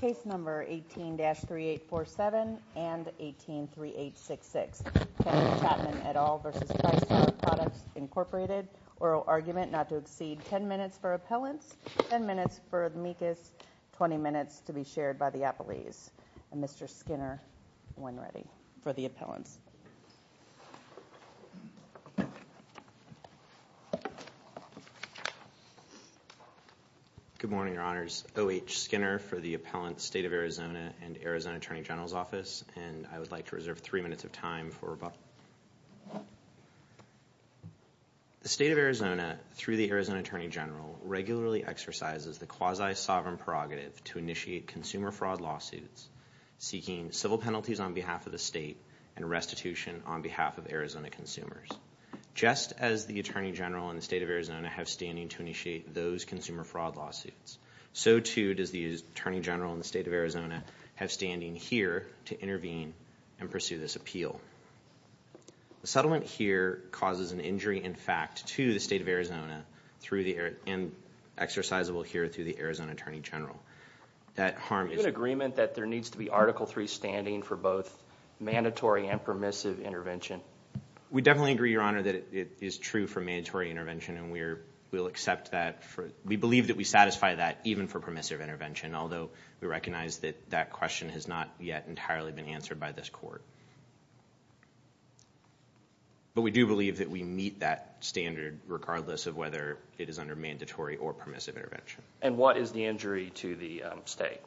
Case number 18-3847 and 18-3866, Kevin Chapman et al. v. Tristar Products, Inc. Oral argument not to exceed 10 minutes for appellants, 10 minutes for amicus, 20 minutes to be shared by the appellees. Mr. Skinner, when ready for the appellants. Good morning, Your Honors. O.H. Skinner for the Appellant State of Arizona and Arizona Attorney General's Office, and I would like to reserve three minutes of time for rebuttal. The State of Arizona, through the Arizona Attorney General, regularly exercises the quasi-sovereign prerogative to initiate consumer fraud lawsuits, seeking civil penalties on behalf of the state and restitution on behalf of Arizona consumers. Just as the Attorney General and the State of Arizona have standing to initiate those consumer fraud lawsuits, so too does the Attorney General and the State of Arizona have standing here to intervene and pursue this appeal. The settlement here causes an injury in fact to the State of Arizona and exercisable here through the Arizona Attorney General. Do you have an agreement that there needs to be Article III standing for both mandatory and permissive intervention? We definitely agree, Your Honor, that it is true for mandatory intervention, and we believe that we satisfy that even for permissive intervention, although we recognize that that question has not yet entirely been answered by this court. But we do believe that we meet that standard regardless of whether it is under mandatory or permissive intervention. And what is the injury to the state?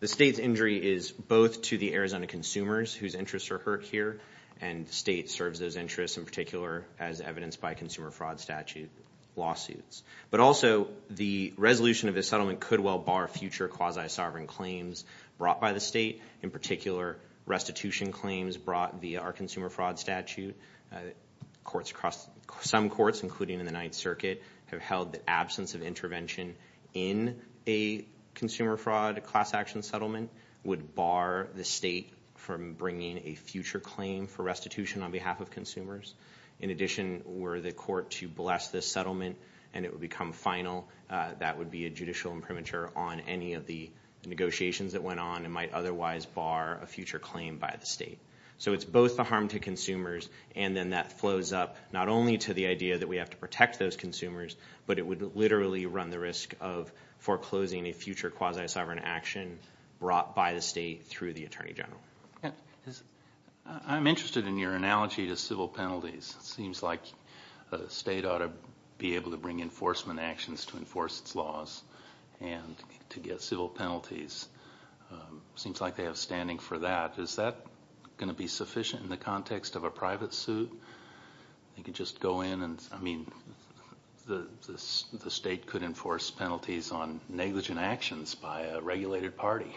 The state's injury is both to the Arizona consumers whose interests are hurt here, and the state serves those interests in particular as evidenced by consumer fraud statute lawsuits. But also the resolution of this settlement could well bar future quasi-sovereign claims brought by the state, in particular restitution claims brought via our consumer fraud statute. Some courts, including in the Ninth Circuit, have held that absence of intervention in a consumer fraud class action settlement would bar the state from bringing a future claim for restitution on behalf of consumers. In addition, were the court to bless this settlement and it would become final, that would be a judicial imprimatur on any of the negotiations that went on and might otherwise bar a future claim by the state. So it's both the harm to consumers and then that flows up, not only to the idea that we have to protect those consumers, but it would literally run the risk of foreclosing a future quasi-sovereign action brought by the state through the Attorney General. I'm interested in your analogy to civil penalties. It seems like the state ought to be able to bring enforcement actions to enforce its laws and to get civil penalties. It seems like they have standing for that. Is that going to be sufficient in the context of a private suit? You could just go in and, I mean, the state could enforce penalties on negligent actions by a regulated party.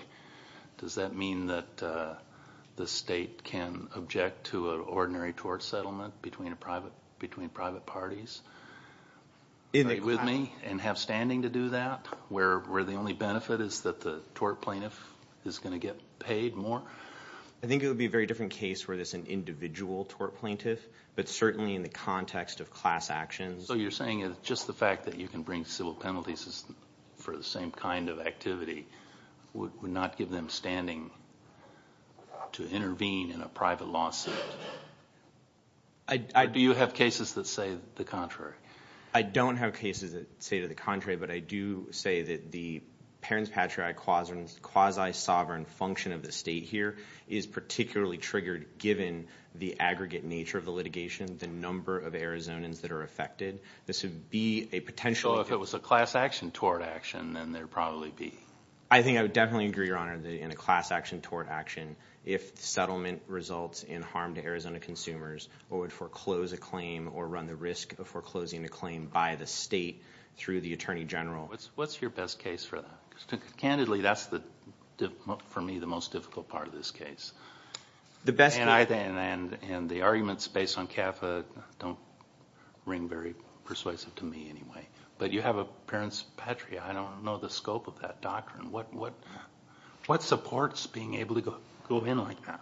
Does that mean that the state can object to an ordinary tort settlement between private parties? Are you with me? And have standing to do that where the only benefit is that the tort plaintiff is going to get paid more? I think it would be a very different case where there's an individual tort plaintiff, but certainly in the context of class actions. So you're saying just the fact that you can bring civil penalties for the same kind of activity would not give them standing to intervene in a private lawsuit? Do you have cases that say the contrary? I don't have cases that say to the contrary, but I do say that the Parents Patriarch quasi-sovereign function of the state here is particularly triggered given the aggregate nature of the litigation, the number of Arizonans that are affected. So if it was a class action tort action, then there would probably be? I think I would definitely agree, Your Honor, in a class action tort action if the settlement results in harm to Arizona consumers or would foreclose a claim or run the risk of foreclosing a claim by the state through the attorney general. What's your best case for that? Candidly, that's for me the most difficult part of this case. And the arguments based on CAFA don't ring very persuasive to me anyway. But you have a Parents Patriarch. I don't know the scope of that doctrine. What supports being able to go in like that?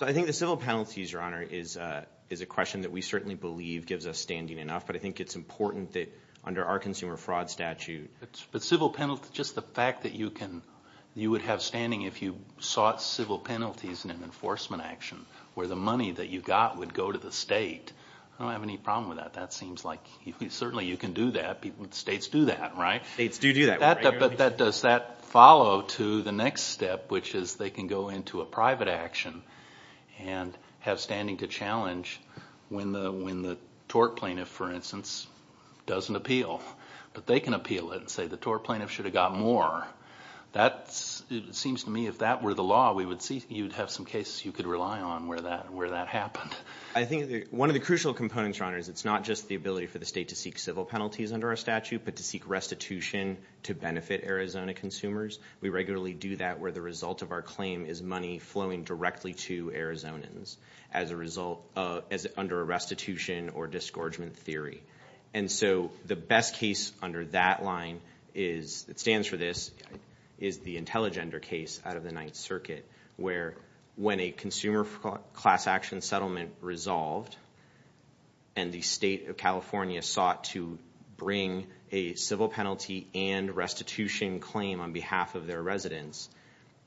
I think the civil penalties, Your Honor, is a question that we certainly believe gives us standing enough, but I think it's important that under our consumer fraud statute. But civil penalties, just the fact that you would have standing if you sought civil penalties in an enforcement action where the money that you got would go to the state. I don't have any problem with that. That seems like certainly you can do that. States do that, right? States do do that. But does that follow to the next step, which is they can go into a private action and have standing to challenge when the tort plaintiff, for instance, doesn't appeal. But they can appeal it and say the tort plaintiff should have got more. It seems to me if that were the law, you would have some cases you could rely on where that happened. I think one of the crucial components, Your Honor, is it's not just the ability for the state to seek civil penalties under our statute but to seek restitution to benefit Arizona consumers. We regularly do that where the result of our claim is money flowing directly to Arizonans under a restitution or disgorgement theory. And so the best case under that line that stands for this is the Intelligender case out of the Ninth Circuit where when a consumer class action settlement resolved and the state of California sought to bring a civil penalty and restitution claim on behalf of their residents,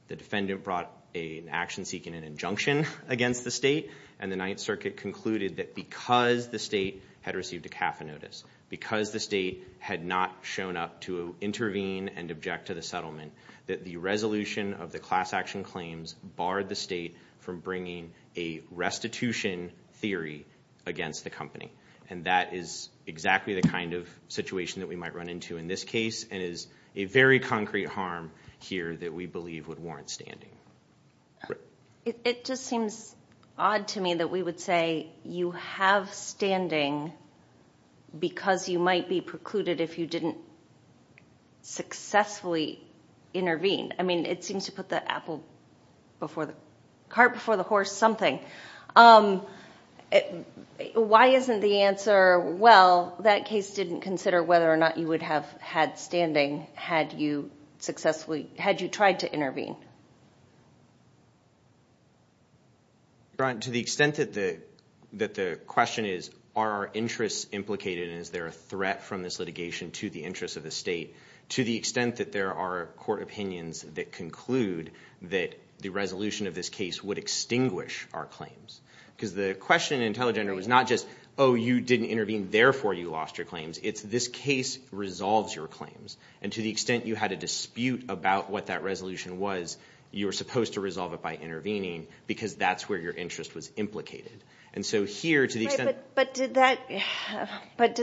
the defendant brought an action seeking an injunction against the state and the Ninth Circuit concluded that because the state had received a CAFA notice, because the state had not shown up to intervene and object to the settlement, that the resolution of the class action claims barred the state from bringing a restitution theory against the company. And that is exactly the kind of situation that we might run into in this case and is a very concrete harm here that we believe would warrant standing. It just seems odd to me that we would say you have standing because you might be precluded if you didn't successfully intervene. I mean, it seems to put the cart before the horse something. Why isn't the answer, well, that case didn't consider whether or not you would have had standing had you tried to intervene? To the extent that the question is are our interests implicated and is there a threat from this litigation to the interests of the state, to the extent that there are court opinions that conclude that the resolution of this case would extinguish our claims. Because the question in Intelligender was not just, oh, you didn't intervene, therefore you lost your claims. It's this case resolves your claims. And to the extent you had a dispute about what that resolution was, you were supposed to resolve it by intervening because that's where your interest was implicated. And so here, to the extent... But did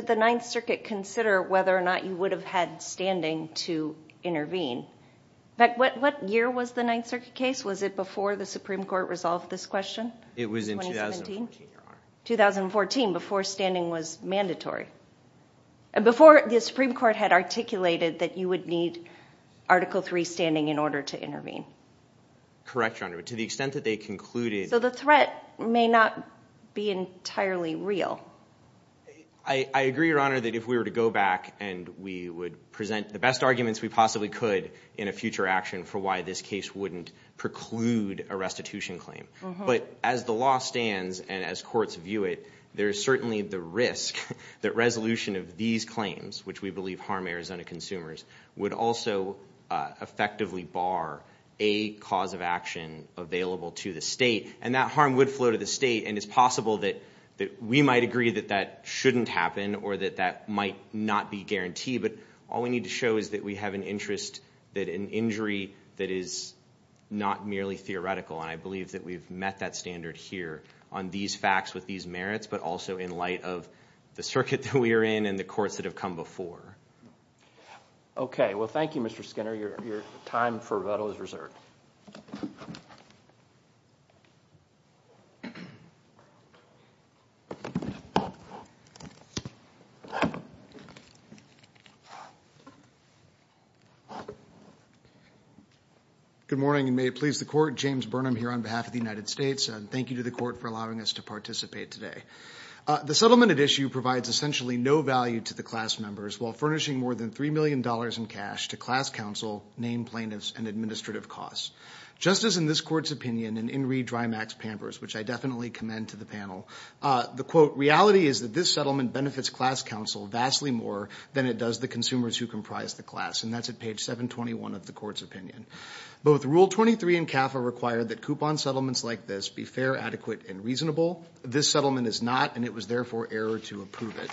the Ninth Circuit consider whether or not you would have had standing to intervene? In fact, what year was the Ninth Circuit case? It was in 2014, Your Honor. It was mandatory. Before, the Supreme Court had articulated that you would need Article III standing in order to intervene. Correct, Your Honor. But to the extent that they concluded... So the threat may not be entirely real. I agree, Your Honor, that if we were to go back and we would present the best arguments we possibly could in a future action for why this case wouldn't preclude a restitution claim. But as the law stands and as courts view it, there is certainly the risk that resolution of these claims, which we believe harm Arizona consumers, would also effectively bar a cause of action available to the state. And that harm would flow to the state, and it's possible that we might agree that that shouldn't happen or that that might not be guaranteed. But all we need to show is that we have an interest, that an injury that is not merely theoretical, and I believe that we've met that standard here, on these facts with these merits, but also in light of the circuit that we are in and the courts that have come before. Okay. Well, thank you, Mr. Skinner. Your time for rebuttal is reserved. Good morning, and may it please the Court. James Burnham here on behalf of the United States. And thank you to the Court for allowing us to participate today. The settlement at issue provides essentially no value to the class members while furnishing more than $3 million in cash to class counsel, named plaintiffs, and administrative costs. Just as in this Court's opinion in Inree Dreimack's Pampers, which I definitely commend to the panel, the, quote, reality is that this settlement benefits class counsel vastly more than it does the consumers who comprise the class. And that's at page 721 of the Court's opinion. Both Rule 23 and CAFA require that coupon settlements like this be fair, adequate, and reasonable. This settlement is not, and it was therefore error to approve it.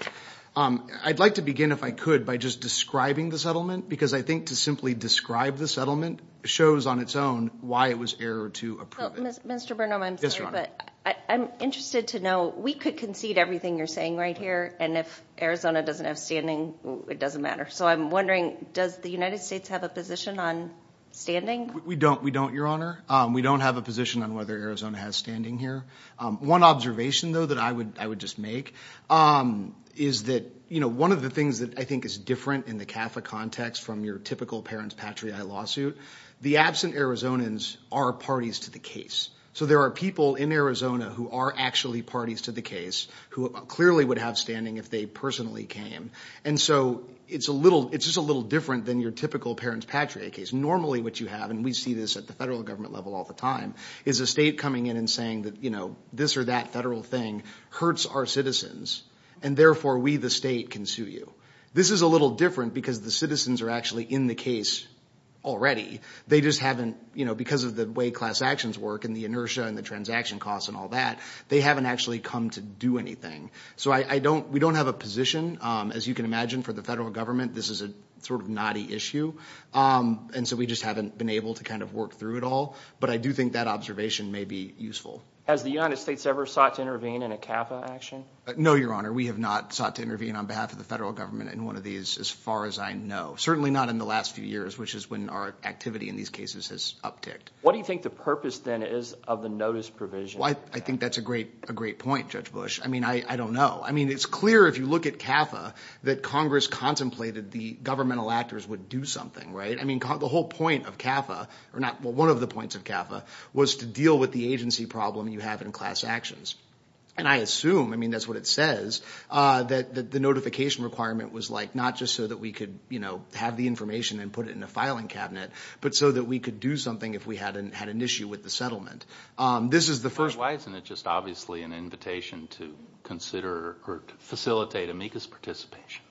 I'd like to begin, if I could, by just describing the settlement, because I think to simply describe the settlement shows on its own why it was error to approve it. Mr. Burnham, I'm sorry, but I'm interested to know, we could concede everything you're saying right here, and if Arizona doesn't have standing, it doesn't matter. So I'm wondering, does the United States have a position on standing? We don't, Your Honor. We don't have a position on whether Arizona has standing here. One observation, though, that I would just make is that, you know, one of the things that I think is different in the CAFA context from your typical parents patriae lawsuit, the absent Arizonans are parties to the case. So there are people in Arizona who are actually parties to the case who clearly would have standing if they personally came. And so it's just a little different than your typical parents patriae case. Normally what you have, and we see this at the federal government level all the time, is a state coming in and saying that, you know, this or that federal thing hurts our citizens, and therefore we, the state, can sue you. This is a little different because the citizens are actually in the case already. They just haven't, you know, because of the way class actions work and the inertia and the transaction costs and all that, they haven't actually come to do anything. So we don't have a position. As you can imagine, for the federal government, this is a sort of knotty issue. And so we just haven't been able to kind of work through it all. But I do think that observation may be useful. Has the United States ever sought to intervene in a CAFA action? No, Your Honor. We have not sought to intervene on behalf of the federal government in one of these as far as I know. Certainly not in the last few years, which is when our activity in these cases has upticked. What do you think the purpose then is of the notice provision? I think that's a great point, Judge Bush. I mean, I don't know. I mean, it's clear if you look at CAFA that Congress contemplated the governmental actors would do something, right? I mean, the whole point of CAFA, or one of the points of CAFA, was to deal with the agency problem you have in class actions. And I assume, I mean, that's what it says, that the notification requirement was like not just so that we could, you know, have the information and put it in a filing cabinet, but so that we could do something if we had an issue with the settlement. Why isn't it just obviously an invitation to consider or to facilitate amicus participation?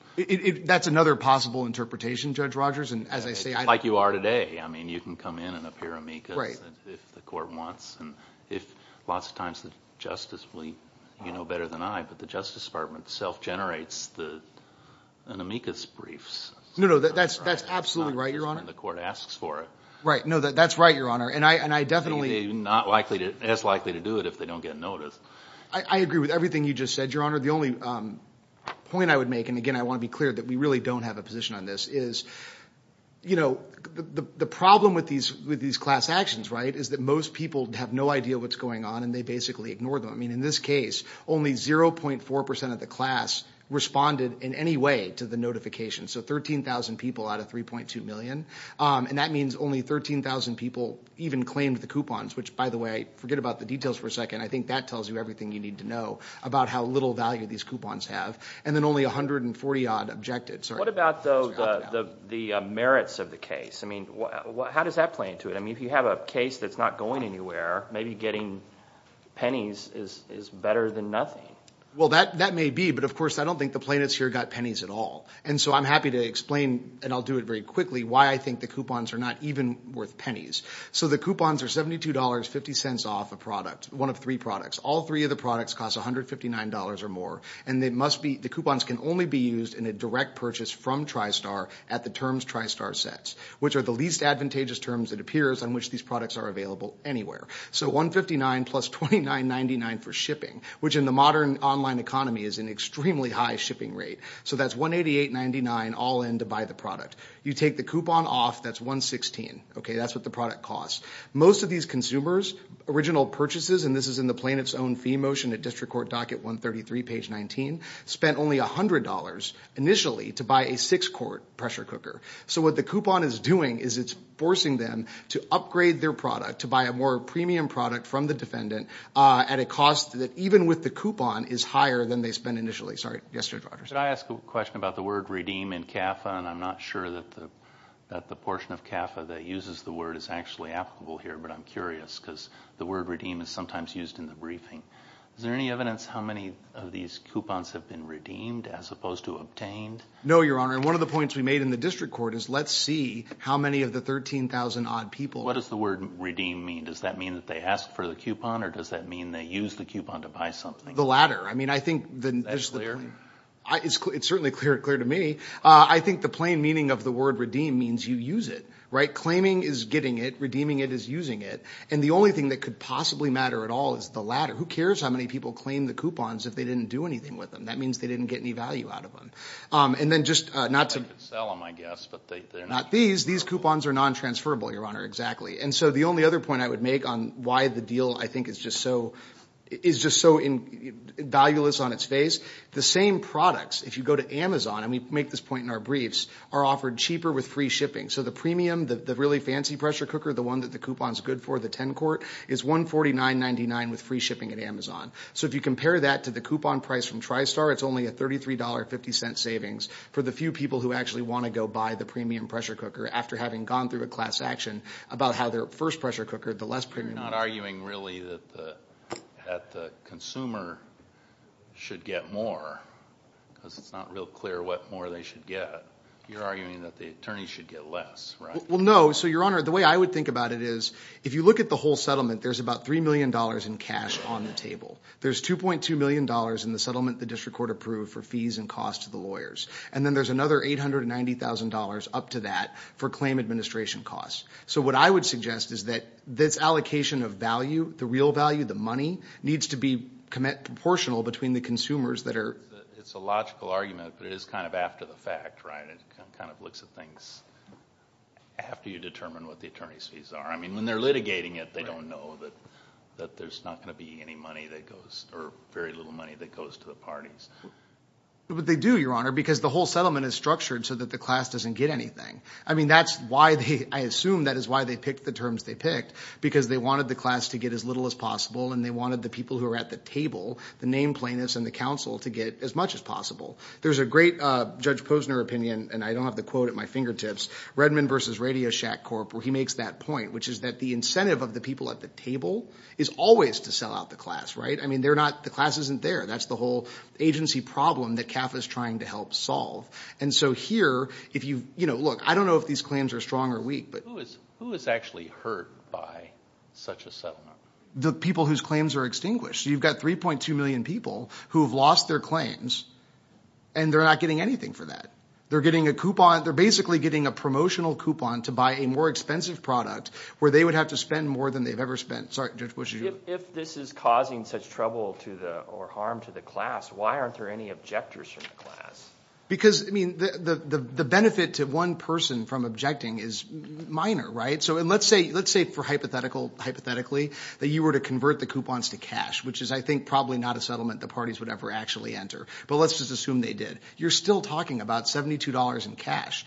That's another possible interpretation, Judge Rogers. Like you are today. I mean, you can come in and appear amicus if the court wants. Lots of times the justice, you know better than I, but the Justice Department self-generates an amicus briefs. No, no, that's absolutely right, Your Honor. It's not just when the court asks for it. Right, no, that's right, Your Honor. And I definitely— They're not as likely to do it if they don't get notice. I agree with everything you just said, Your Honor. The only point I would make, and, again, I want to be clear that we really don't have a position on this, is, you know, the problem with these class actions, right, is that most people have no idea what's going on and they basically ignore them. I mean, in this case, only 0.4% of the class responded in any way to the notification, so 13,000 people out of 3.2 million. And that means only 13,000 people even claimed the coupons, which, by the way, I forget about the details for a second. I think that tells you everything you need to know about how little value these coupons have. And then only 140-odd objected. What about, though, the merits of the case? I mean, how does that play into it? I mean, if you have a case that's not going anywhere, maybe getting pennies is better than nothing. Well, that may be, but, of course, I don't think the plaintiffs here got pennies at all. And so I'm happy to explain, and I'll do it very quickly, why I think the coupons are not even worth pennies. So the coupons are $72.50 off a product, one of three products. All three of the products cost $159 or more, and the coupons can only be used in a direct purchase from TriStar at the terms TriStar sets, which are the least advantageous terms, it appears, on which these products are available anywhere. So $159 plus $29.99 for shipping, which in the modern online economy is an extremely high shipping rate. So that's $188.99 all in to buy the product. You take the coupon off, that's $116. Okay, that's what the product costs. Most of these consumers, original purchases, and this is in the plaintiff's own fee motion at District Court Docket 133, page 19, spent only $100 initially to buy a six-quart pressure cooker. So what the coupon is doing is it's forcing them to upgrade their product, to buy a more premium product from the defendant at a cost that even with the coupon is higher than they spent initially. Sorry, yes, Judge Rogers. Could I ask a question about the word redeem in CAFA, and I'm not sure that the portion of CAFA that uses the word is actually applicable here, but I'm curious because the word redeem is sometimes used in the briefing. Is there any evidence how many of these coupons have been redeemed as opposed to obtained? No, Your Honor, and one of the points we made in the District Court is let's see how many of the 13,000-odd people. What does the word redeem mean? Does that mean that they ask for the coupon, or does that mean they use the coupon to buy something? The latter. That's clear. It's certainly clear to me. I think the plain meaning of the word redeem means you use it, right? Claiming is getting it. Redeeming it is using it. And the only thing that could possibly matter at all is the latter. Who cares how many people claim the coupons if they didn't do anything with them? That means they didn't get any value out of them. And then just not to sell them, I guess, but they're not these. These coupons are non-transferable, Your Honor, exactly. And so the only other point I would make on why the deal, I think, is just so valueless on its face, the same products, if you go to Amazon, and we make this point in our briefs, are offered cheaper with free shipping. So the premium, the really fancy pressure cooker, the one that the coupon is good for, the 10-quart, is $149.99 with free shipping at Amazon. So if you compare that to the coupon price from TriStar, it's only a $33.50 savings for the few people who actually want to go buy the premium pressure cooker after having gone through a class action about how their first pressure cooker, the less premium. You're not arguing really that the consumer should get more because it's not real clear what more they should get. You're arguing that the attorneys should get less, right? Well, no. So, Your Honor, the way I would think about it is if you look at the whole settlement, there's about $3 million in cash on the table. There's $2.2 million in the settlement the district court approved for fees and costs to the lawyers. And then there's another $890,000 up to that for claim administration costs. So what I would suggest is that this allocation of value, the real value, the money, needs to be proportional between the consumers that are – It's a logical argument, but it is kind of after the fact, right? It kind of looks at things after you determine what the attorney's fees are. I mean, when they're litigating it, they don't know that there's not going to be any money that goes – or very little money that goes to the parties. But they do, Your Honor, because the whole settlement is structured so that the class doesn't get anything. I mean that's why they – I assume that is why they picked the terms they picked because they wanted the class to get as little as possible and they wanted the people who are at the table, the name plaintiffs and the counsel, to get as much as possible. There's a great Judge Posner opinion, and I don't have the quote at my fingertips, Redmond v. Radio Shack Corp, where he makes that point, which is that the incentive of the people at the table is always to sell out the class, right? I mean they're not – the class isn't there. That's the whole agency problem that CAF is trying to help solve. And so here, if you – look, I don't know if these claims are strong or weak, but – Who is actually hurt by such a settlement? The people whose claims are extinguished. You've got 3.2 million people who have lost their claims and they're not getting anything for that. They're getting a coupon – they're basically getting a promotional coupon to buy a more expensive product where they would have to spend more than they've ever spent. Sorry, Judge, what did you – If this is causing such trouble to the – or harm to the class, why aren't there any objectors from the class? Because, I mean, the benefit to one person from objecting is minor, right? So let's say for hypothetical – hypothetically that you were to convert the coupons to cash, which is I think probably not a settlement the parties would ever actually enter. But let's just assume they did. You're still talking about $72 in cash.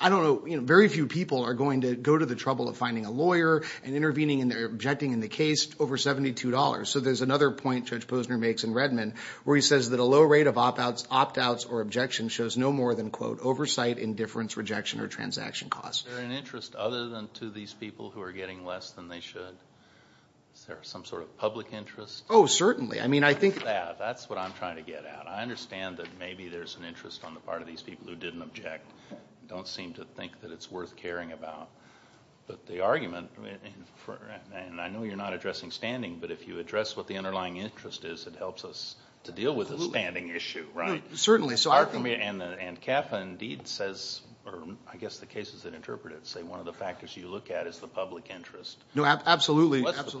I don't know – very few people are going to go to the trouble of finding a lawyer and intervening and objecting in the case over $72. So there's another point Judge Posner makes in Redmond where he says that a low rate of opt-outs or objections shows no more than, quote, oversight, indifference, rejection, or transaction costs. Is there an interest other than to these people who are getting less than they should? Is there some sort of public interest? Oh, certainly. I mean, I think – Look at that. That's what I'm trying to get at. I understand that maybe there's an interest on the part of these people who didn't object, don't seem to think that it's worth caring about. But the argument – and I know you're not addressing standing, but if you address what the underlying interest is, it helps us to deal with the standing issue, right? Certainly. And CAFA indeed says – or I guess the cases that interpret it say one of the factors you look at is the public interest. No, absolutely. What's the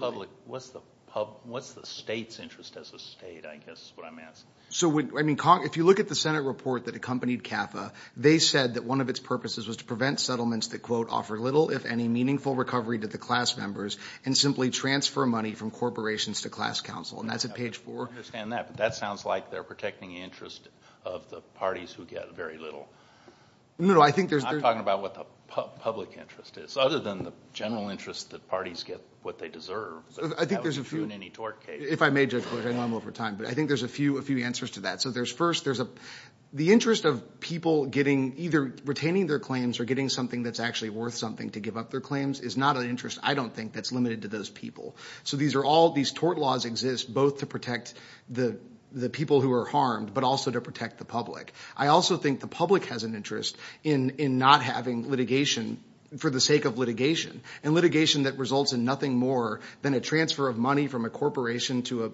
public – what's the state's interest as a state, I guess is what I'm asking. So, I mean, if you look at the Senate report that accompanied CAFA, they said that one of its purposes was to prevent settlements that, quote, offer little if any meaningful recovery to the class members and simply transfer money from corporations to class council, and that's at page 4. I understand that, but that sounds like they're protecting interest of the parties who get very little. No, I think there's – I'm talking about what the public interest is, other than the general interest that parties get what they deserve. I think there's a few – That would be true in any tort case. If I may, Judge Bush, I know I'm over time, but I think there's a few answers to that. So there's first – there's a – the interest of people getting either retaining their claims or getting something that's actually worth something to give up their claims is not an interest I don't think that's limited to those people. So these are all – these tort laws exist both to protect the people who are harmed, but also to protect the public. I also think the public has an interest in not having litigation for the sake of litigation, and litigation that results in nothing more than a transfer of money from a corporation to a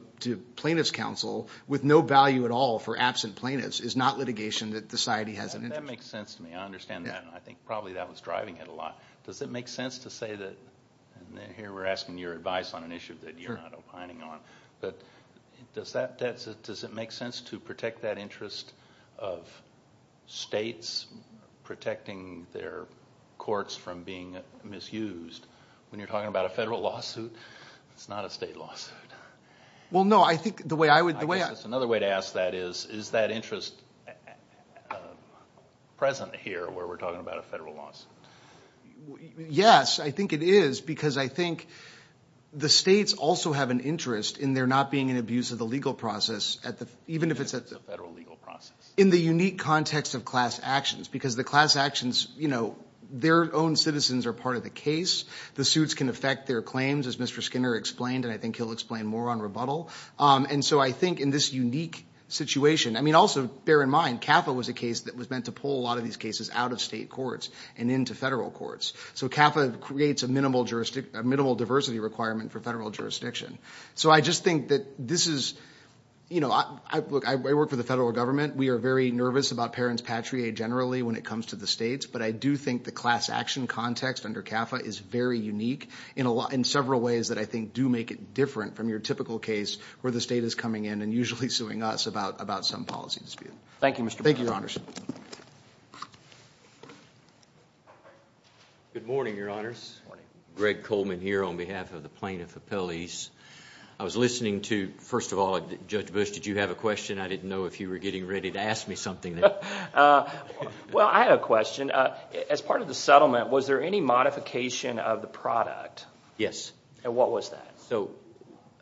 plaintiff's counsel with no value at all for absent plaintiffs is not litigation that society has an interest in. That makes sense to me. I understand that, and I think probably that was driving it a lot. Does it make sense to say that – and here we're asking your advice on an issue that you're not opining on, but does that – does it make sense to protect that interest of states protecting their courts from being misused? When you're talking about a federal lawsuit, it's not a state lawsuit. Well, no, I think the way I would – I guess another way to ask that is, is that interest present here where we're talking about a federal lawsuit? Yes, I think it is because I think the states also have an interest in there not being an abuse of the legal process, even if it's a – It's a federal legal process. In the unique context of class actions because the class actions, their own citizens are part of the case. The suits can affect their claims, as Mr. Skinner explained, and I think he'll explain more on rebuttal. And so I think in this unique situation – I mean, also bear in mind CAFA was a case that was meant to pull a lot of these cases out of state courts and into federal courts. So CAFA creates a minimal diversity requirement for federal jurisdiction. So I just think that this is – Look, I work for the federal government. We are very nervous about parents patrie generally when it comes to the states, but I do think the class action context under CAFA is very unique in several ways that I think do make it different from your typical case where the state is coming in and usually suing us about some policy dispute. Thank you, Mr. Brown. Thank you, Your Honors. Good morning, Your Honors. Good morning. Greg Coleman here on behalf of the plaintiff appellees. I was listening to – first of all, Judge Bush, did you have a question? I didn't know if you were getting ready to ask me something. Well, I had a question. As part of the settlement, was there any modification of the product? Yes. And what was that? So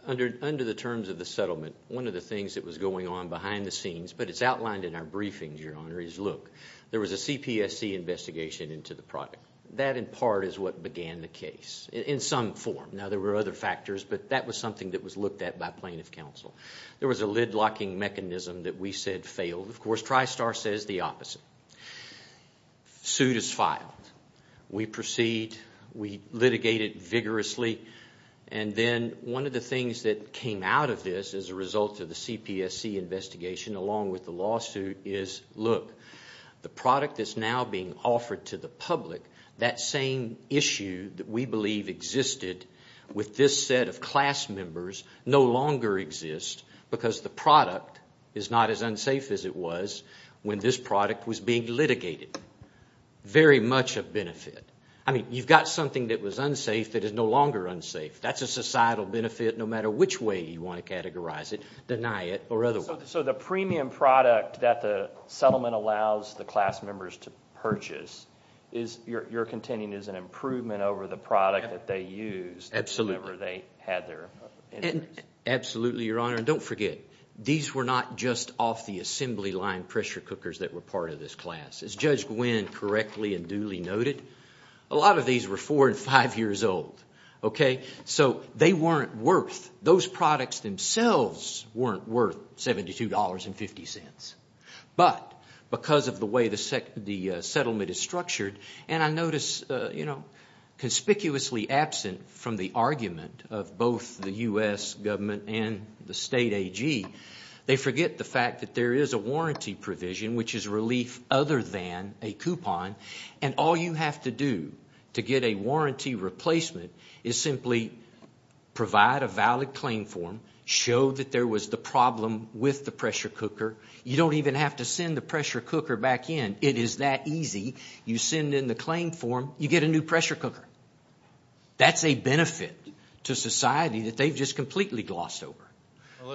under the terms of the settlement, one of the things that was going on behind the scenes, but it's outlined in our briefings, Your Honor, is, look, there was a CPSC investigation into the product. That, in part, is what began the case in some form. Now, there were other factors, but that was something that was looked at by plaintiff counsel. There was a lid-locking mechanism that we said failed. Of course, TriStar says the opposite. Suit is filed. We proceed. We litigate it vigorously. And then one of the things that came out of this as a result of the CPSC investigation, along with the lawsuit, is, look, the product that's now being offered to the public, that same issue that we believe existed with this set of class members, no longer exists because the product is not as unsafe as it was when this product was being litigated. Very much a benefit. I mean, you've got something that was unsafe that is no longer unsafe. That's a societal benefit no matter which way you want to categorize it, deny it or otherwise. So the premium product that the settlement allows the class members to purchase, your contending is an improvement over the product that they used. Absolutely. Absolutely, Your Honor. And don't forget, these were not just off-the-assembly line pressure cookers that were part of this class. As Judge Gwynne correctly and duly noted, a lot of these were four and five years old. So they weren't worth, those products themselves weren't worth $72.50. But because of the way the settlement is structured, and I notice conspicuously absent from the argument of both the U.S. government and the state AG, they forget the fact that there is a warranty provision, which is relief other than a coupon, and all you have to do to get a warranty replacement is simply provide a valid claim form, show that there was the problem with the pressure cooker. You don't even have to send the pressure cooker back in. It is that easy. You send in the claim form. You get a new pressure cooker. That's a benefit to society that they've just completely glossed over.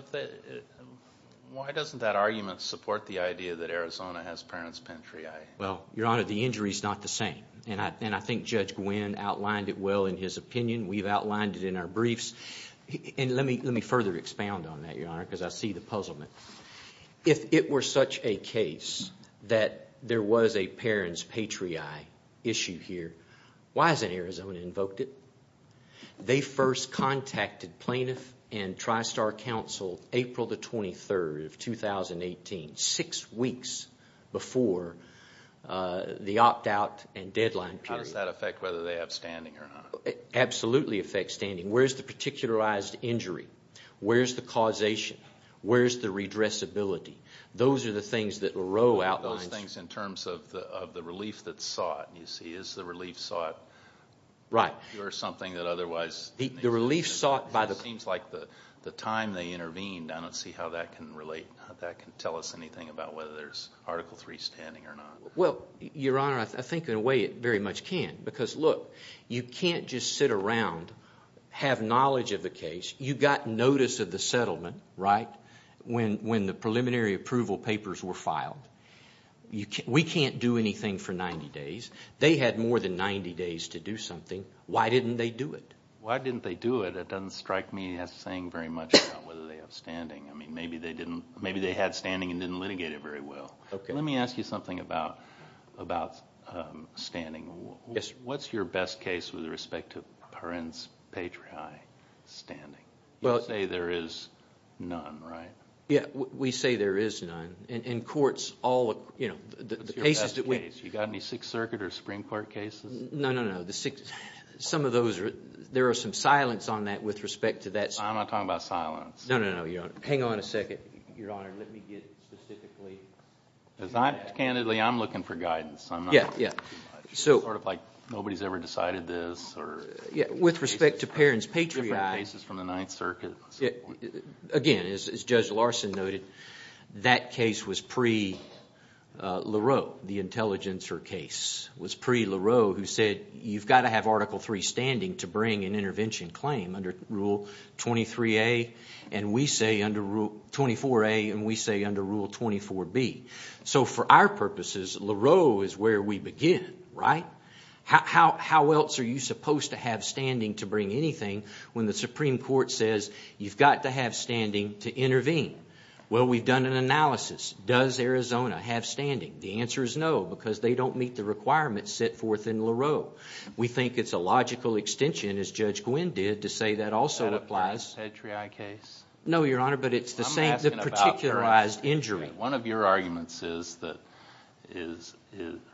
Why doesn't that argument support the idea that Arizona has parents' pantry? Well, Your Honor, the injury is not the same. And I think Judge Gwynne outlined it well in his opinion. We've outlined it in our briefs. And let me further expound on that, Your Honor, because I see the puzzlement. If it were such a case that there was a parents' patriarch issue here, why hasn't Arizona invoked it? They first contacted plaintiff and TriStar Counsel April 23, 2018, six weeks before the opt-out and deadline period. How does that affect whether they have standing or not? It absolutely affects standing. Where is the particularized injury? Where is the causation? Where is the redressability? Those are the things that LaRoe outlines. Those things in terms of the relief that's sought, you see. Is the relief sought? Right. Or something that otherwise… The relief sought by the… It seems like the time they intervened, I don't see how that can relate, how that can tell us anything about whether there's Article III standing or not. Well, Your Honor, I think in a way it very much can. Because, look, you can't just sit around, have knowledge of the case. You got notice of the settlement, right, when the preliminary approval papers were filed. We can't do anything for 90 days. They had more than 90 days to do something. Why didn't they do it? Why didn't they do it? That doesn't strike me as saying very much about whether they have standing. I mean, maybe they had standing and didn't litigate it very well. Let me ask you something about standing. What's your best case with respect to parens patriae standing? You say there is none, right? Yeah, we say there is none. What's your best case? You got any Sixth Circuit or Supreme Court cases? No, no, no. Some of those, there is some silence on that with respect to that. I'm not talking about silence. No, no, no, Your Honor. Hang on a second. Your Honor, let me get specifically to that. Because, candidly, I'm looking for guidance. Yeah, yeah. It's sort of like nobody's ever decided this. With respect to parents patriae… Different cases from the Ninth Circuit. Again, as Judge Larson noted, that case was pre-LaRoe, the intelligencer case. It was pre-LaRoe who said you've got to have Article III standing to bring an intervention claim under Rule 23a and we say under Rule 24a and we say under Rule 24b. So for our purposes, LaRoe is where we begin, right? How else are you supposed to have standing to bring anything when the Supreme Court says you've got to have standing to intervene? Well, we've done an analysis. Does Arizona have standing? The answer is no, because they don't meet the requirements set forth in LaRoe. We think it's a logical extension, as Judge Gwynne did, to say that also applies. That applies to the patriae case? No, Your Honor, but it's the particularized injury. One of your arguments is that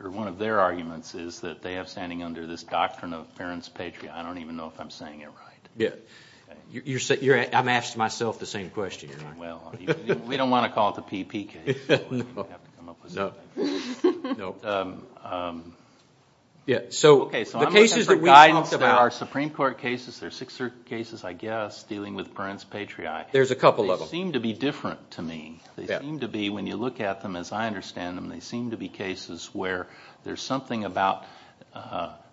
– or one of their arguments is that they have standing under this doctrine of parents patriae. I don't even know if I'm saying it right. Yeah. I'm asking myself the same question, Your Honor. Well, we don't want to call it the PP case, so we're going to have to come up with something. Nope. Yeah, so the cases that we've talked about… Okay, so I'm looking for guidance about our Supreme Court cases. There are six cases, I guess, dealing with parents patriae. There's a couple of them. They seem to be different to me. They seem to be, when you look at them as I understand them, they seem to be cases where there's something about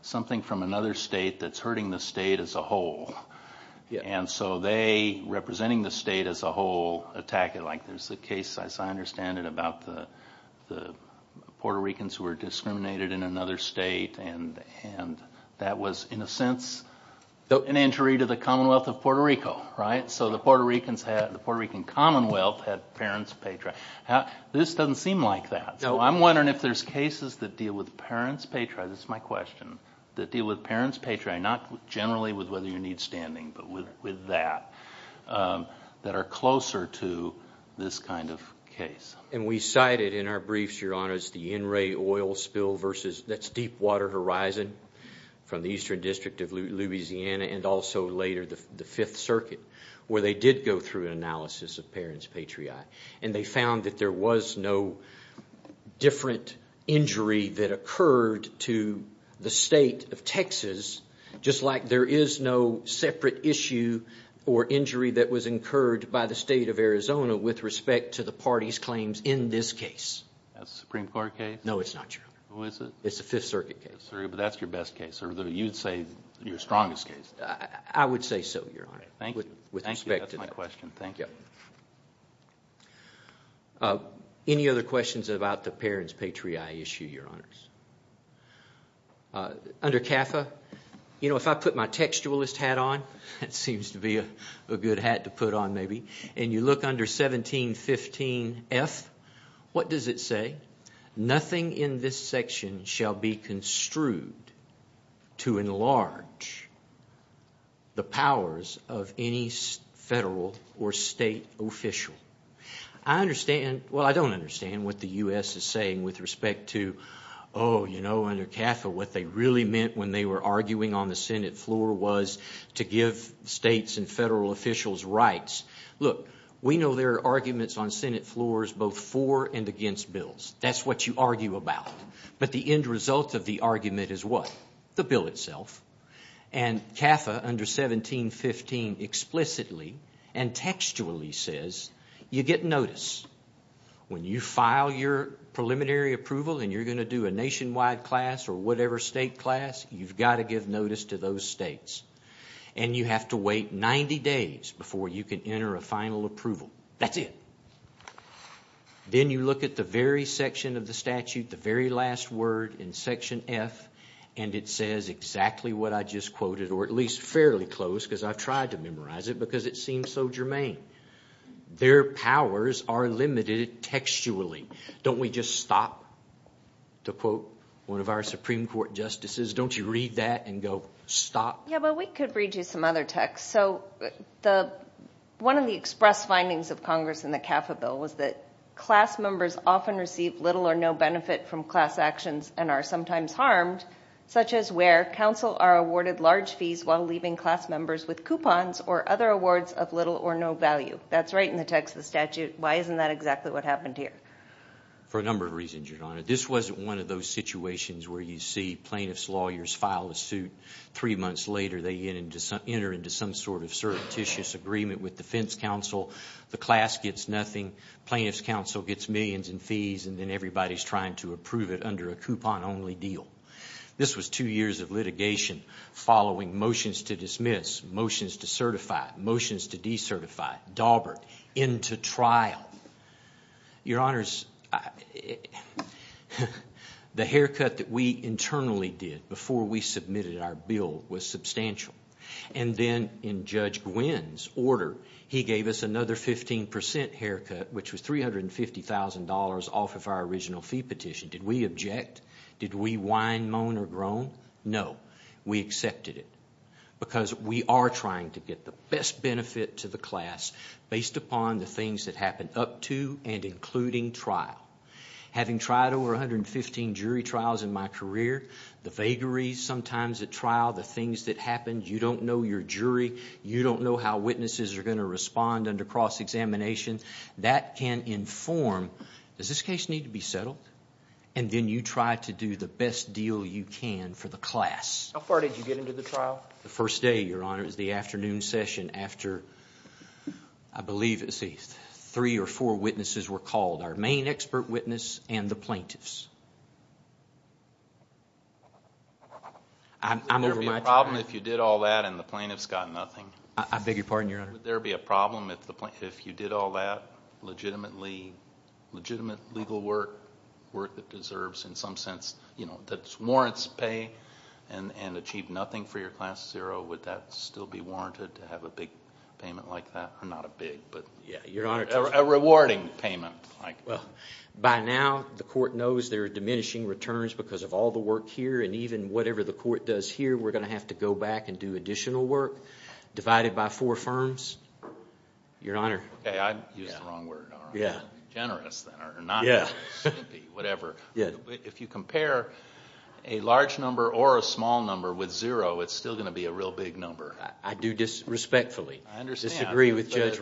something from another state that's hurting the state as a whole. And so they, representing the state as a whole, attack it like there's a case, as I understand it, about the Puerto Ricans who were discriminated in another state. And that was, in a sense, an injury to the Commonwealth of Puerto Rico, right? So the Puerto Rican Commonwealth had parents patriae. This doesn't seem like that. So I'm wondering if there's cases that deal with parents patriae, this is my question, that deal with parents patriae, not generally with whether you need standing, but with that, that are closer to this kind of case. And we cited in our briefs, Your Honors, the NRA oil spill versus – that's Deepwater Horizon from the Eastern District of Louisiana and also later the Fifth Circuit, where they did go through an analysis of parents patriae. And they found that there was no different injury that occurred to the state of Texas, just like there is no separate issue or injury that was incurred by the state of Arizona with respect to the party's claims in this case. That's a Supreme Court case? No, it's not, Your Honor. Who is it? It's a Fifth Circuit case. But that's your best case, or you'd say your strongest case? I would say so, Your Honor. Thank you. That's my question. Thank you. Any other questions about the parents patriae issue, Your Honors? Under CAFA, you know, if I put my textualist hat on, that seems to be a good hat to put on maybe, and you look under 1715F, what does it say? Nothing in this section shall be construed to enlarge the powers of any federal or state official. I understand – well, I don't understand what the U.S. is saying with respect to, oh, you know, under CAFA, what they really meant when they were arguing on the Senate floor was to give states and federal officials rights. Look, we know there are arguments on Senate floors both for and against bills. That's what you argue about. But the end result of the argument is what? The bill itself. And CAFA under 1715 explicitly and textually says you get notice. When you file your preliminary approval and you're going to do a nationwide class or whatever state class, you've got to give notice to those states. And you have to wait 90 days before you can enter a final approval. That's it. Then you look at the very section of the statute, the very last word in Section F, and it says exactly what I just quoted, or at least fairly close because I've tried to memorize it because it seems so germane. Their powers are limited textually. Don't we just stop to quote one of our Supreme Court justices? Don't you read that and go stop? Yeah, but we could read you some other text. So one of the express findings of Congress in the CAFA bill was that class members often receive little or no benefit from class actions and are sometimes harmed, such as where counsel are awarded large fees while leaving class members with coupons or other awards of little or no value. That's right in the text of the statute. Why isn't that exactly what happened here? For a number of reasons, Your Honor. This wasn't one of those situations where you see plaintiff's lawyers file a suit. Three months later, they enter into some sort of certitious agreement with defense counsel. The class gets nothing. Plaintiff's counsel gets millions in fees, and then everybody's trying to approve it under a coupon-only deal. This was two years of litigation following motions to dismiss, motions to certify, motions to decertify, Daubert, into trial. Your Honors, the haircut that we internally did before we submitted our bill was substantial. And then in Judge Gwinn's order, he gave us another 15% haircut, which was $350,000 off of our original fee petition. Did we object? Did we whine, moan, or groan? No. We accepted it because we are trying to get the best benefit to the class based upon the things that happen up to and including trial. Having tried over 115 jury trials in my career, the vagaries sometimes at trial, the things that happen. You don't know your jury. You don't know how witnesses are going to respond under cross-examination. That can inform, does this case need to be settled? And then you try to do the best deal you can for the class. How far did you get into the trial? The first day, Your Honor, is the afternoon session after, I believe, three or four witnesses were called. Our main expert witness and the plaintiffs. Would there be a problem if you did all that and the plaintiffs got nothing? I beg your pardon, Your Honor? Would there be a problem if you did all that legitimate legal work that deserves, in some sense, that warrants pay and achieved nothing for your class zero? Would that still be warranted to have a big payment like that? Not a big, but a rewarding payment. By now, the court knows there are diminishing returns because of all the work here. And even whatever the court does here, we're going to have to go back and do additional work. Divided by four firms, Your Honor. Okay, I used the wrong word, Your Honor. Generous, then, or not generous. Whatever. If you compare a large number or a small number with zero, it's still going to be a real big number. I do this respectfully. I understand. I disagree with Judge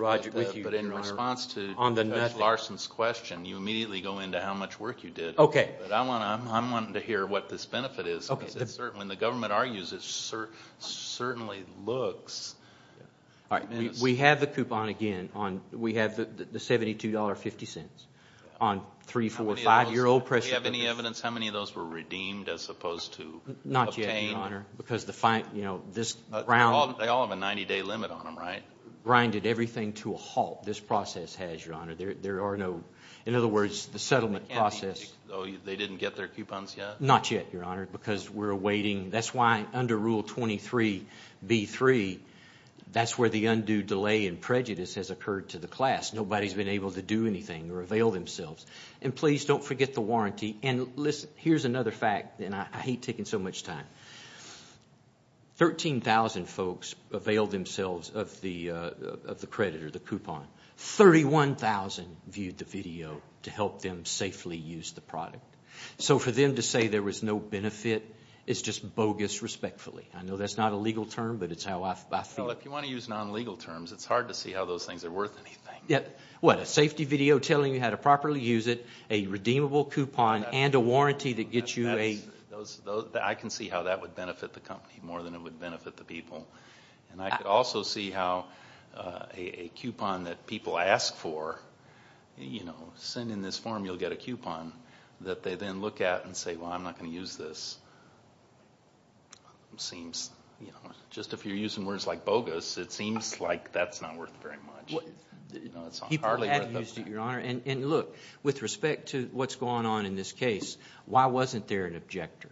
Larson's question. You immediately go into how much work you did. Okay. I want to hear what this benefit is. When the government argues, it certainly looks. All right, we have the coupon again. We have the $72.50 on three, four, five-year-old press records. Do you have any evidence how many of those were redeemed as opposed to obtained? Not yet, Your Honor, because the fine, you know, this round. They all have a 90-day limit on them, right? Grinded everything to a halt. This process has, Your Honor. There are no, in other words, the settlement process. They didn't get their coupons yet? Not yet, Your Honor, because we're awaiting. That's why under Rule 23b-3, that's where the undue delay and prejudice has occurred to the class. Nobody's been able to do anything or avail themselves. And please don't forget the warranty. And listen, here's another fact, and I hate taking so much time. 13,000 folks availed themselves of the credit or the coupon. 31,000 viewed the video to help them safely use the product. So for them to say there was no benefit is just bogus respectfully. I know that's not a legal term, but it's how I feel. Well, if you want to use non-legal terms, it's hard to see how those things are worth anything. What, a safety video telling you how to properly use it, a redeemable coupon, and a warranty that gets you a? I can see how that would benefit the company more than it would benefit the people. And I could also see how a coupon that people ask for, you know, send in this form, you'll get a coupon, that they then look at and say, well, I'm not going to use this. It seems, you know, just if you're using words like bogus, it seems like that's not worth very much. People have used it, Your Honor. And look, with respect to what's going on in this case, why wasn't there an objector,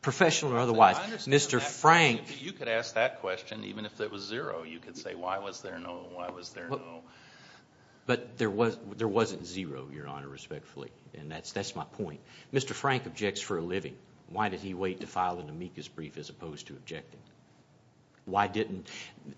professional or otherwise? You could ask that question even if it was zero. You could say, why was there no, why was there no? But there wasn't zero, Your Honor, respectfully, and that's my point. Mr. Frank objects for a living. Why did he wait to file an amicus brief as opposed to objecting? Why didn't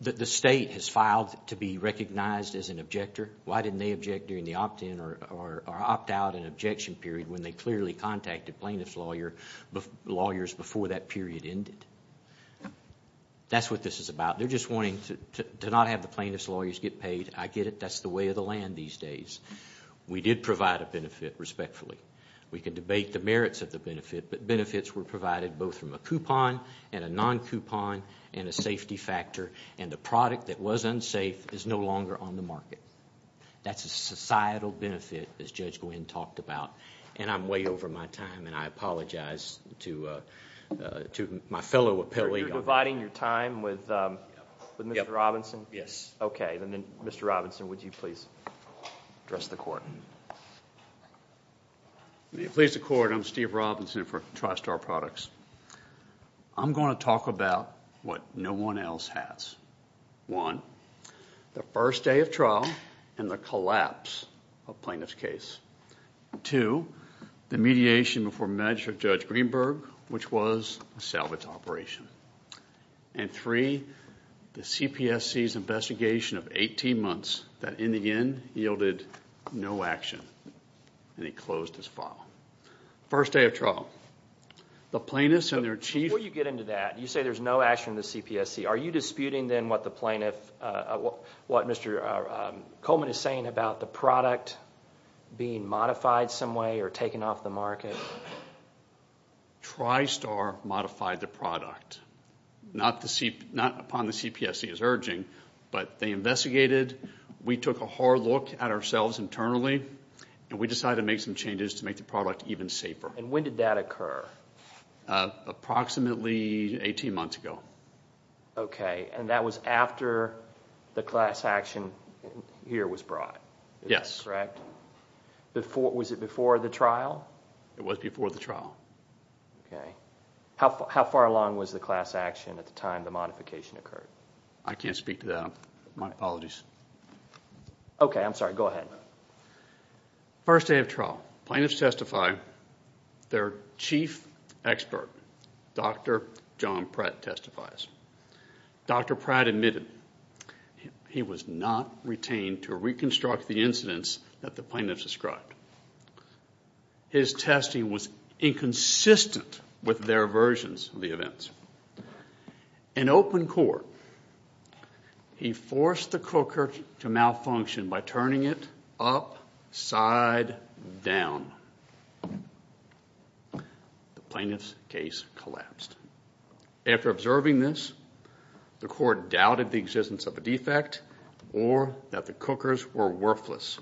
the state has filed to be recognized as an objector. Why didn't they object during the opt-in or opt-out and objection period when they clearly contacted plaintiff's lawyers before that period ended? That's what this is about. They're just wanting to not have the plaintiff's lawyers get paid. I get it. That's the way of the land these days. We did provide a benefit respectfully. We can debate the merits of the benefit, but benefits were provided both from a coupon and a non-coupon and a safety factor, and the product that was unsafe is no longer on the market. That's a societal benefit, as Judge Gwinn talked about, and I'm way over my time and I apologize to my fellow appellee. You're dividing your time with Mr. Robinson? Yes. Okay, then Mr. Robinson, would you please address the court? May it please the court, I'm Steve Robinson for TriStar Products. I'm going to talk about what no one else has. One, the first day of trial and the collapse of plaintiff's case. Two, the mediation before Magistrate Judge Greenberg, which was a salvage operation. And three, the CPSC's investigation of 18 months that in the end yielded no action, and he closed his file. First day of trial, the plaintiffs and their chiefs. Before you get into that, you say there's no action in the CPSC. Are you disputing then what the plaintiff, what Mr. Coleman is saying about the product being modified some way or taken off the market? TriStar modified the product, not upon the CPSC's urging, but they investigated. We took a hard look at ourselves internally, and we decided to make some changes to make the product even safer. And when did that occur? Approximately 18 months ago. Okay, and that was after the class action here was brought? Yes. Correct? Was it before the trial? It was before the trial. Okay. How far along was the class action at the time the modification occurred? I can't speak to that. My apologies. Okay, I'm sorry. Go ahead. First day of trial, plaintiffs testify. Their chief expert, Dr. John Pratt, testifies. Dr. Pratt admitted he was not retained to reconstruct the incidents that the plaintiffs described. His testing was inconsistent with their versions of the events. In open court, he forced the cooker to malfunction by turning it upside down. The plaintiff's case collapsed. After observing this, the court doubted the existence of a defect or that the cookers were worthless.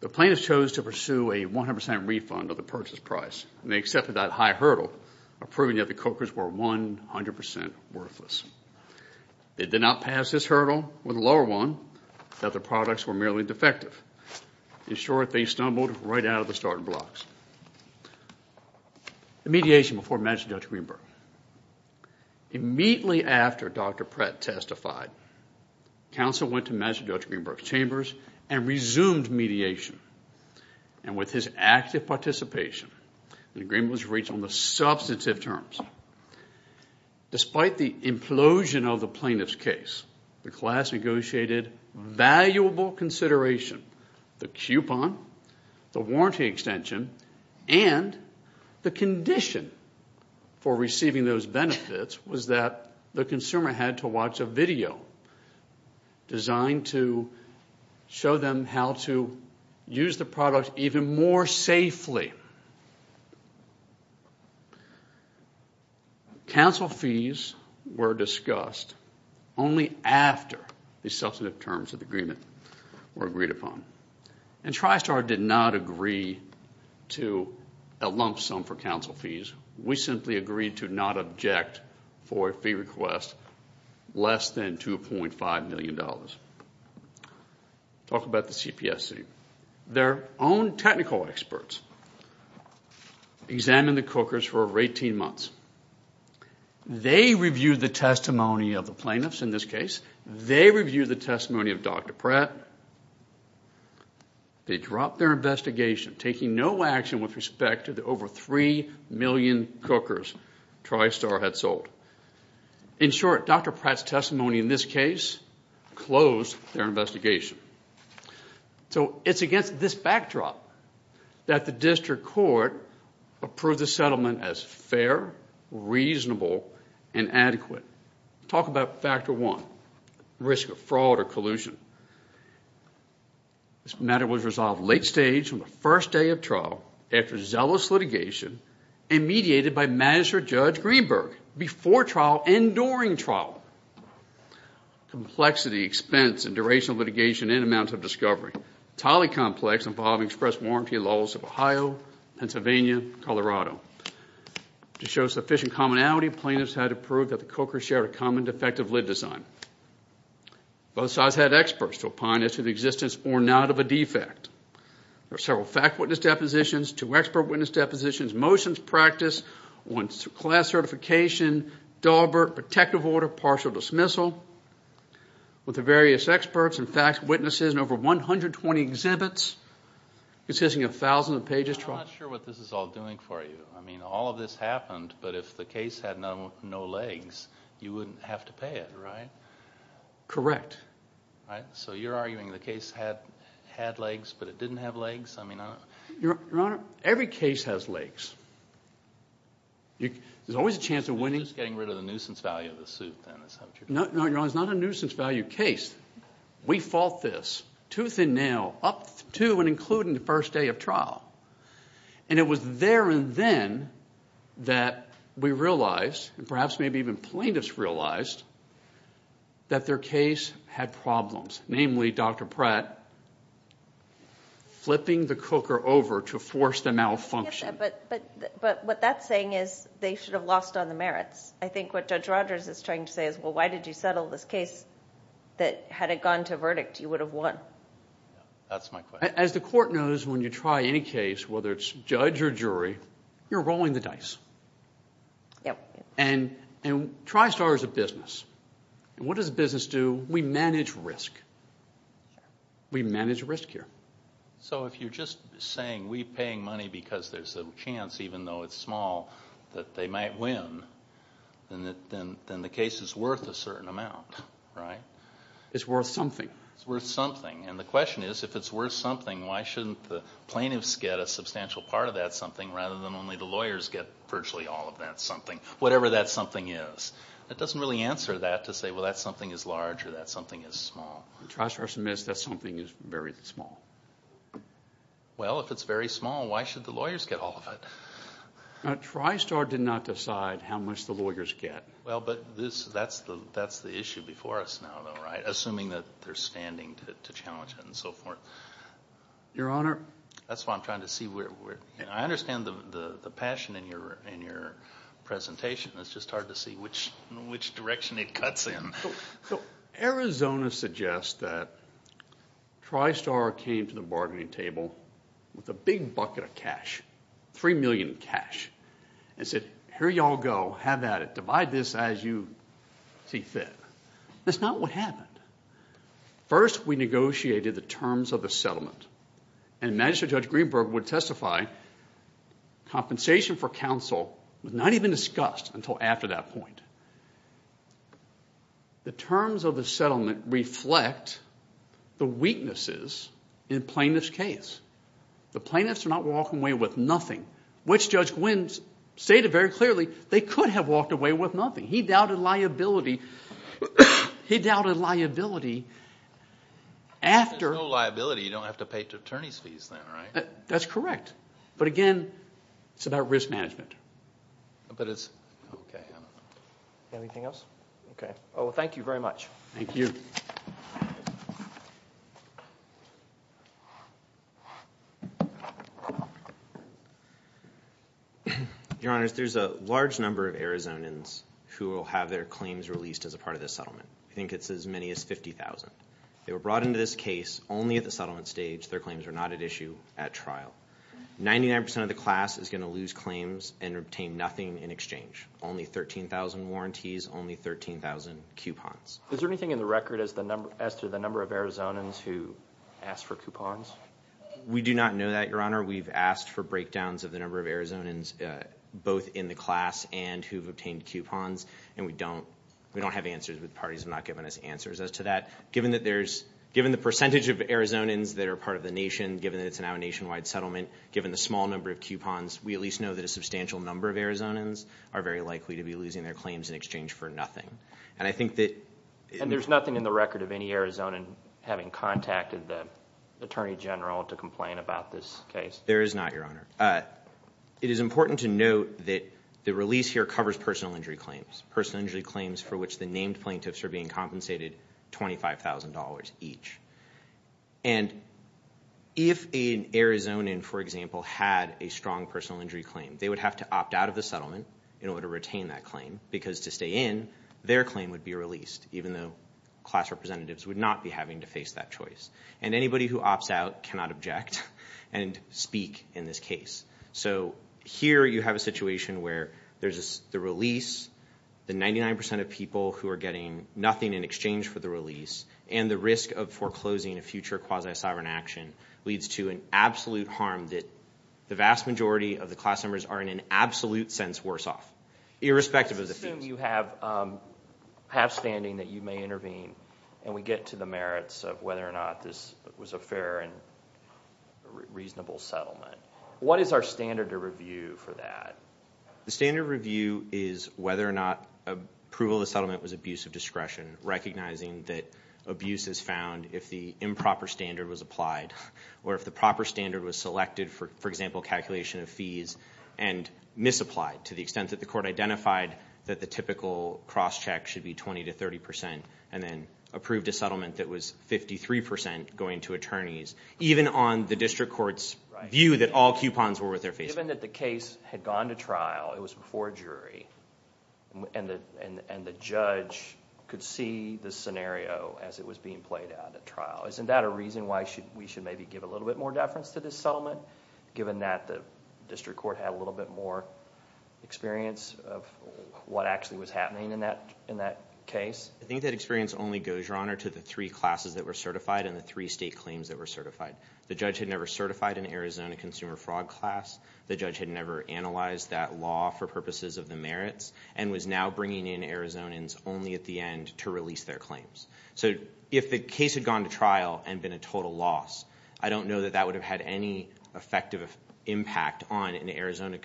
The plaintiffs chose to pursue a 100% refund of the purchase price, and they accepted that high hurdle of proving that the cookers were 100% worthless. They did not pass this hurdle or the lower one, that the products were merely defective. In short, they stumbled right out of the starting blocks. The mediation before Magistrate Judge Greenberg. Immediately after Dr. Pratt testified, counsel went to Magistrate Judge Greenberg's chambers and resumed mediation. And with his active participation, the agreement was reached on the substantive terms. Despite the implosion of the plaintiff's case, the class negotiated valuable consideration. The coupon, the warranty extension, and the condition for receiving those benefits was that the consumer had to watch a video designed to show them how to use the product even more safely. Counsel fees were discussed only after the substantive terms of the agreement were agreed upon. And TriStar did not agree to a lump sum for counsel fees. We simply agreed to not object for a fee request less than $2.5 million. Talk about the CPSC. Their own technical experts examined the cookers for over 18 months. They reviewed the testimony of the plaintiffs in this case. They reviewed the testimony of Dr. Pratt. They dropped their investigation, taking no action with respect to the over 3 million cookers TriStar had sold. In short, Dr. Pratt's testimony in this case closed their investigation. So it's against this backdrop that the district court approved the settlement as fair, reasonable, and adequate. Talk about factor one, risk of fraud or collusion. This matter was resolved late stage on the first day of trial after zealous litigation and mediated by Magistrate Judge Greenberg before trial and during trial. Complexity, expense, and duration of litigation and amount of discovery. Entirely complex involving express warranty laws of Ohio, Pennsylvania, Colorado. To show sufficient commonality, plaintiffs had to prove that the cookers shared a common defective lid design. Both sides had experts to opine as to the existence or not of a defect. There were several fact witness depositions, two expert witness depositions, motions practiced on class certification, Daubert, protective order, partial dismissal. With the various experts and fact witnesses in over 120 exhibits consisting of thousands of pages. I'm not sure what this is all doing for you. I mean, all of this happened, but if the case had no legs, you wouldn't have to pay it, right? Correct. So you're arguing the case had legs, but it didn't have legs? Your Honor, every case has legs. There's always a chance of winning. You're just getting rid of the nuisance value of the suit, then. No, Your Honor, it's not a nuisance value case. We fought this tooth and nail up to and including the first day of trial. And it was there and then that we realized, and perhaps maybe even plaintiffs realized, that their case had problems. Namely, Dr. Pratt flipping the cooker over to force the malfunction. But what that's saying is they should have lost on the merits. I think what Judge Rogers is trying to say is, well, why did you settle this case that, had it gone to verdict, you would have won? That's my question. As the Court knows, when you try any case, whether it's judge or jury, you're rolling the dice. Yep. And TriStar is a business. What does a business do? We manage risk. We manage risk here. So if you're just saying we're paying money because there's a chance, even though it's small, that they might win, then the case is worth a certain amount, right? It's worth something. It's worth something. And the question is, if it's worth something, why shouldn't the plaintiffs get a substantial part of that something rather than only the lawyers get virtually all of that something, whatever that something is? That doesn't really answer that to say, well, that something is large or that something is small. TriStar submits that something is very small. Well, if it's very small, why should the lawyers get all of it? TriStar did not decide how much the lawyers get. Well, but that's the issue before us now, though, right, assuming that they're standing to challenge it and so forth. Your Honor? That's what I'm trying to see. I understand the passion in your presentation. It's just hard to see which direction it cuts in. So Arizona suggests that TriStar came to the bargaining table with a big bucket of cash, $3 million in cash, and said, here you all go, have at it, divide this as you see fit. That's not what happened. First, we negotiated the terms of the settlement, and Magistrate Judge Greenberg would testify compensation for counsel was not even discussed until after that point. The terms of the settlement reflect the weaknesses in plaintiff's case. The plaintiffs are not walking away with nothing, which Judge Gwinn stated very clearly they could have walked away with nothing. He doubted liability after. If there's no liability, you don't have to pay attorney's fees then, right? That's correct. But again, it's about risk management. Anything else? Okay. Well, thank you very much. Thank you. Your Honors, there's a large number of Arizonans who will have their claims released as a part of this settlement. I think it's as many as 50,000. They were brought into this case only at the settlement stage. Their claims were not at issue at trial. 99% of the class is going to lose claims and obtain nothing in exchange, only 13,000 warranties, only 13,000 coupons. Is there anything in the record as to the number of Arizonans who asked for coupons? We do not know that, Your Honor. We've asked for breakdowns of the number of Arizonans, both in the class and who've obtained coupons, and we don't have answers, but the parties have not given us answers as to that. Given the percentage of Arizonans that are part of the nation, given that it's now a nationwide settlement, given the small number of coupons, we at least know that a substantial number of Arizonans are very likely to be losing their claims in exchange for nothing. And there's nothing in the record of any Arizonan having contacted the Attorney General to complain about this case? There is not, Your Honor. It is important to note that the release here covers personal injury claims, for which the named plaintiffs are being compensated $25,000 each. And if an Arizonan, for example, had a strong personal injury claim, they would have to opt out of the settlement in order to retain that claim because to stay in, their claim would be released, even though class representatives would not be having to face that choice. And anybody who opts out cannot object and speak in this case. So here you have a situation where there's the release, the 99% of people who are getting nothing in exchange for the release, and the risk of foreclosing a future quasi-sovereign action leads to an absolute harm that the vast majority of the class members are in an absolute sense worse off, irrespective of the fees. Let's assume you have half-standing that you may intervene, and we get to the merits of whether or not this was a fair and reasonable settlement. What is our standard to review for that? The standard review is whether or not approval of the settlement was abuse of discretion, recognizing that abuse is found if the improper standard was applied, or if the proper standard was selected, for example, calculation of fees, and misapplied to the extent that the court identified that the typical cross-check should be 20% to 30%, and then approved a settlement that was 53% going to attorneys, even on the district court's view that all coupons were worth their face. Given that the case had gone to trial, it was before a jury, and the judge could see the scenario as it was being played out at trial, isn't that a reason why we should maybe give a little bit more deference to this settlement, given that the district court had a little bit more experience of what actually was happening in that case? I think that experience only goes, Your Honor, to the three classes that were certified and the three state claims that were certified. The judge had never certified an Arizona consumer fraud class. The judge had never analyzed that law for purposes of the merits, and was now bringing in Arizonans only at the end to release their claims. So if the case had gone to trial and been a total loss, I don't know that that would have had any effective impact on Arizona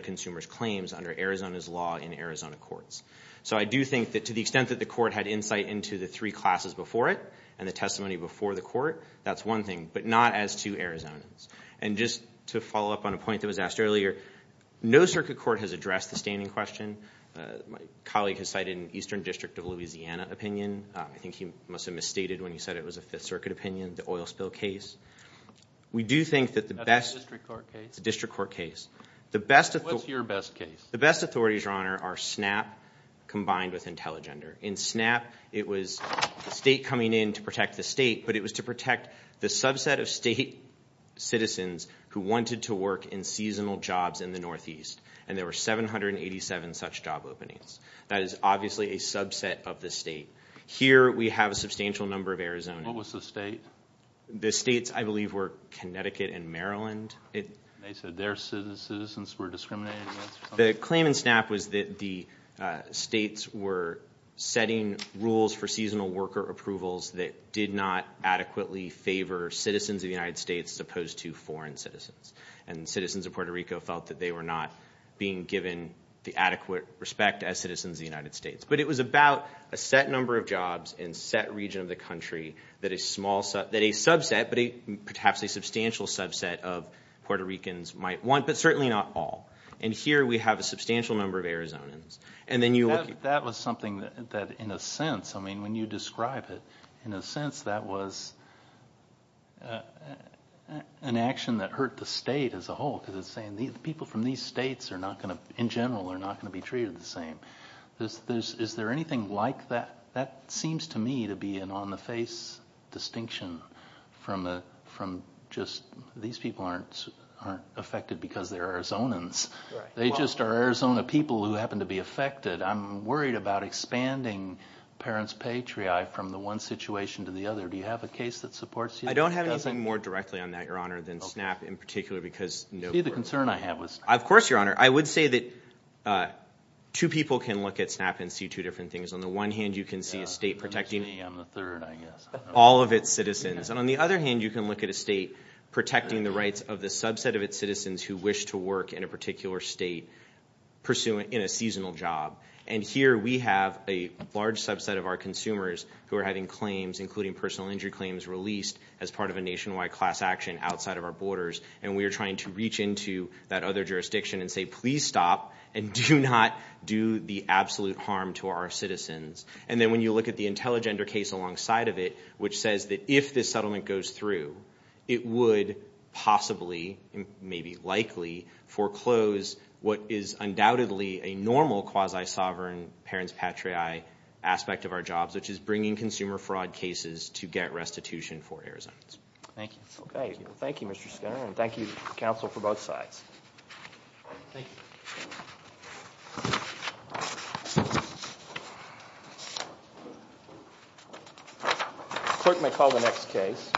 consumers' claims under Arizona's law in Arizona courts. So I do think that to the extent that the court had insight into the three classes before it and the testimony before the court, that's one thing, but not as to Arizonans. And just to follow up on a point that was asked earlier, no circuit court has addressed the standing question. My colleague has cited an Eastern District of Louisiana opinion. I think he must have misstated when he said it was a Fifth Circuit opinion, the oil spill case. That's a district court case? It's a district court case. What's your best case? The best authorities, Your Honor, are SNAP combined with Intelligender. In SNAP, it was the state coming in to protect the state, but it was to protect the subset of state citizens who wanted to work in seasonal jobs in the Northeast, and there were 787 such job openings. That is obviously a subset of the state. Here we have a substantial number of Arizonans. What was the state? The states, I believe, were Connecticut and Maryland. They said their citizens were discriminated against? The claim in SNAP was that the states were setting rules for seasonal worker approvals that did not adequately favor citizens of the United States as opposed to foreign citizens, and citizens of Puerto Rico felt that they were not being given the adequate respect as citizens of the United States. But it was about a set number of jobs in a set region of the country that a subset, but perhaps a substantial subset of Puerto Ricans might want, but certainly not all. And here we have a substantial number of Arizonans. That was something that, in a sense, I mean, when you describe it, in a sense that was an action that hurt the state as a whole, because it's saying people from these states are not going to, in general, are not going to be treated the same. Is there anything like that? That seems to me to be an on-the-face distinction from just these people aren't affected because they're Arizonans. They just are Arizona people who happen to be affected. I'm worried about expanding parents' patriarchy from the one situation to the other. Do you have a case that supports that? I don't have anything more directly on that, Your Honor, than SNAP in particular. Do you see the concern I have with SNAP? Of course, Your Honor. I would say that two people can look at SNAP and see two different things. On the one hand, you can see a state protecting all of its citizens. And on the other hand, you can look at a state protecting the rights of the subset of its citizens who wish to work in a particular state in a seasonal job. And here we have a large subset of our consumers who are having claims, including personal injury claims, released as part of a nationwide class action outside of our borders, and we are trying to reach into that other jurisdiction and say, please stop and do not do the absolute harm to our citizens. And then when you look at the Intelligender case alongside of it, which says that if this settlement goes through, it would possibly, maybe likely, foreclose what is undoubtedly a normal quasi-sovereign parents patriae aspect of our jobs, which is bringing consumer fraud cases to get restitution for Arizona. Thank you. Okay. Thank you, Mr. Skinner, and thank you, counsel, for both sides. Thank you. The clerk may call the next case.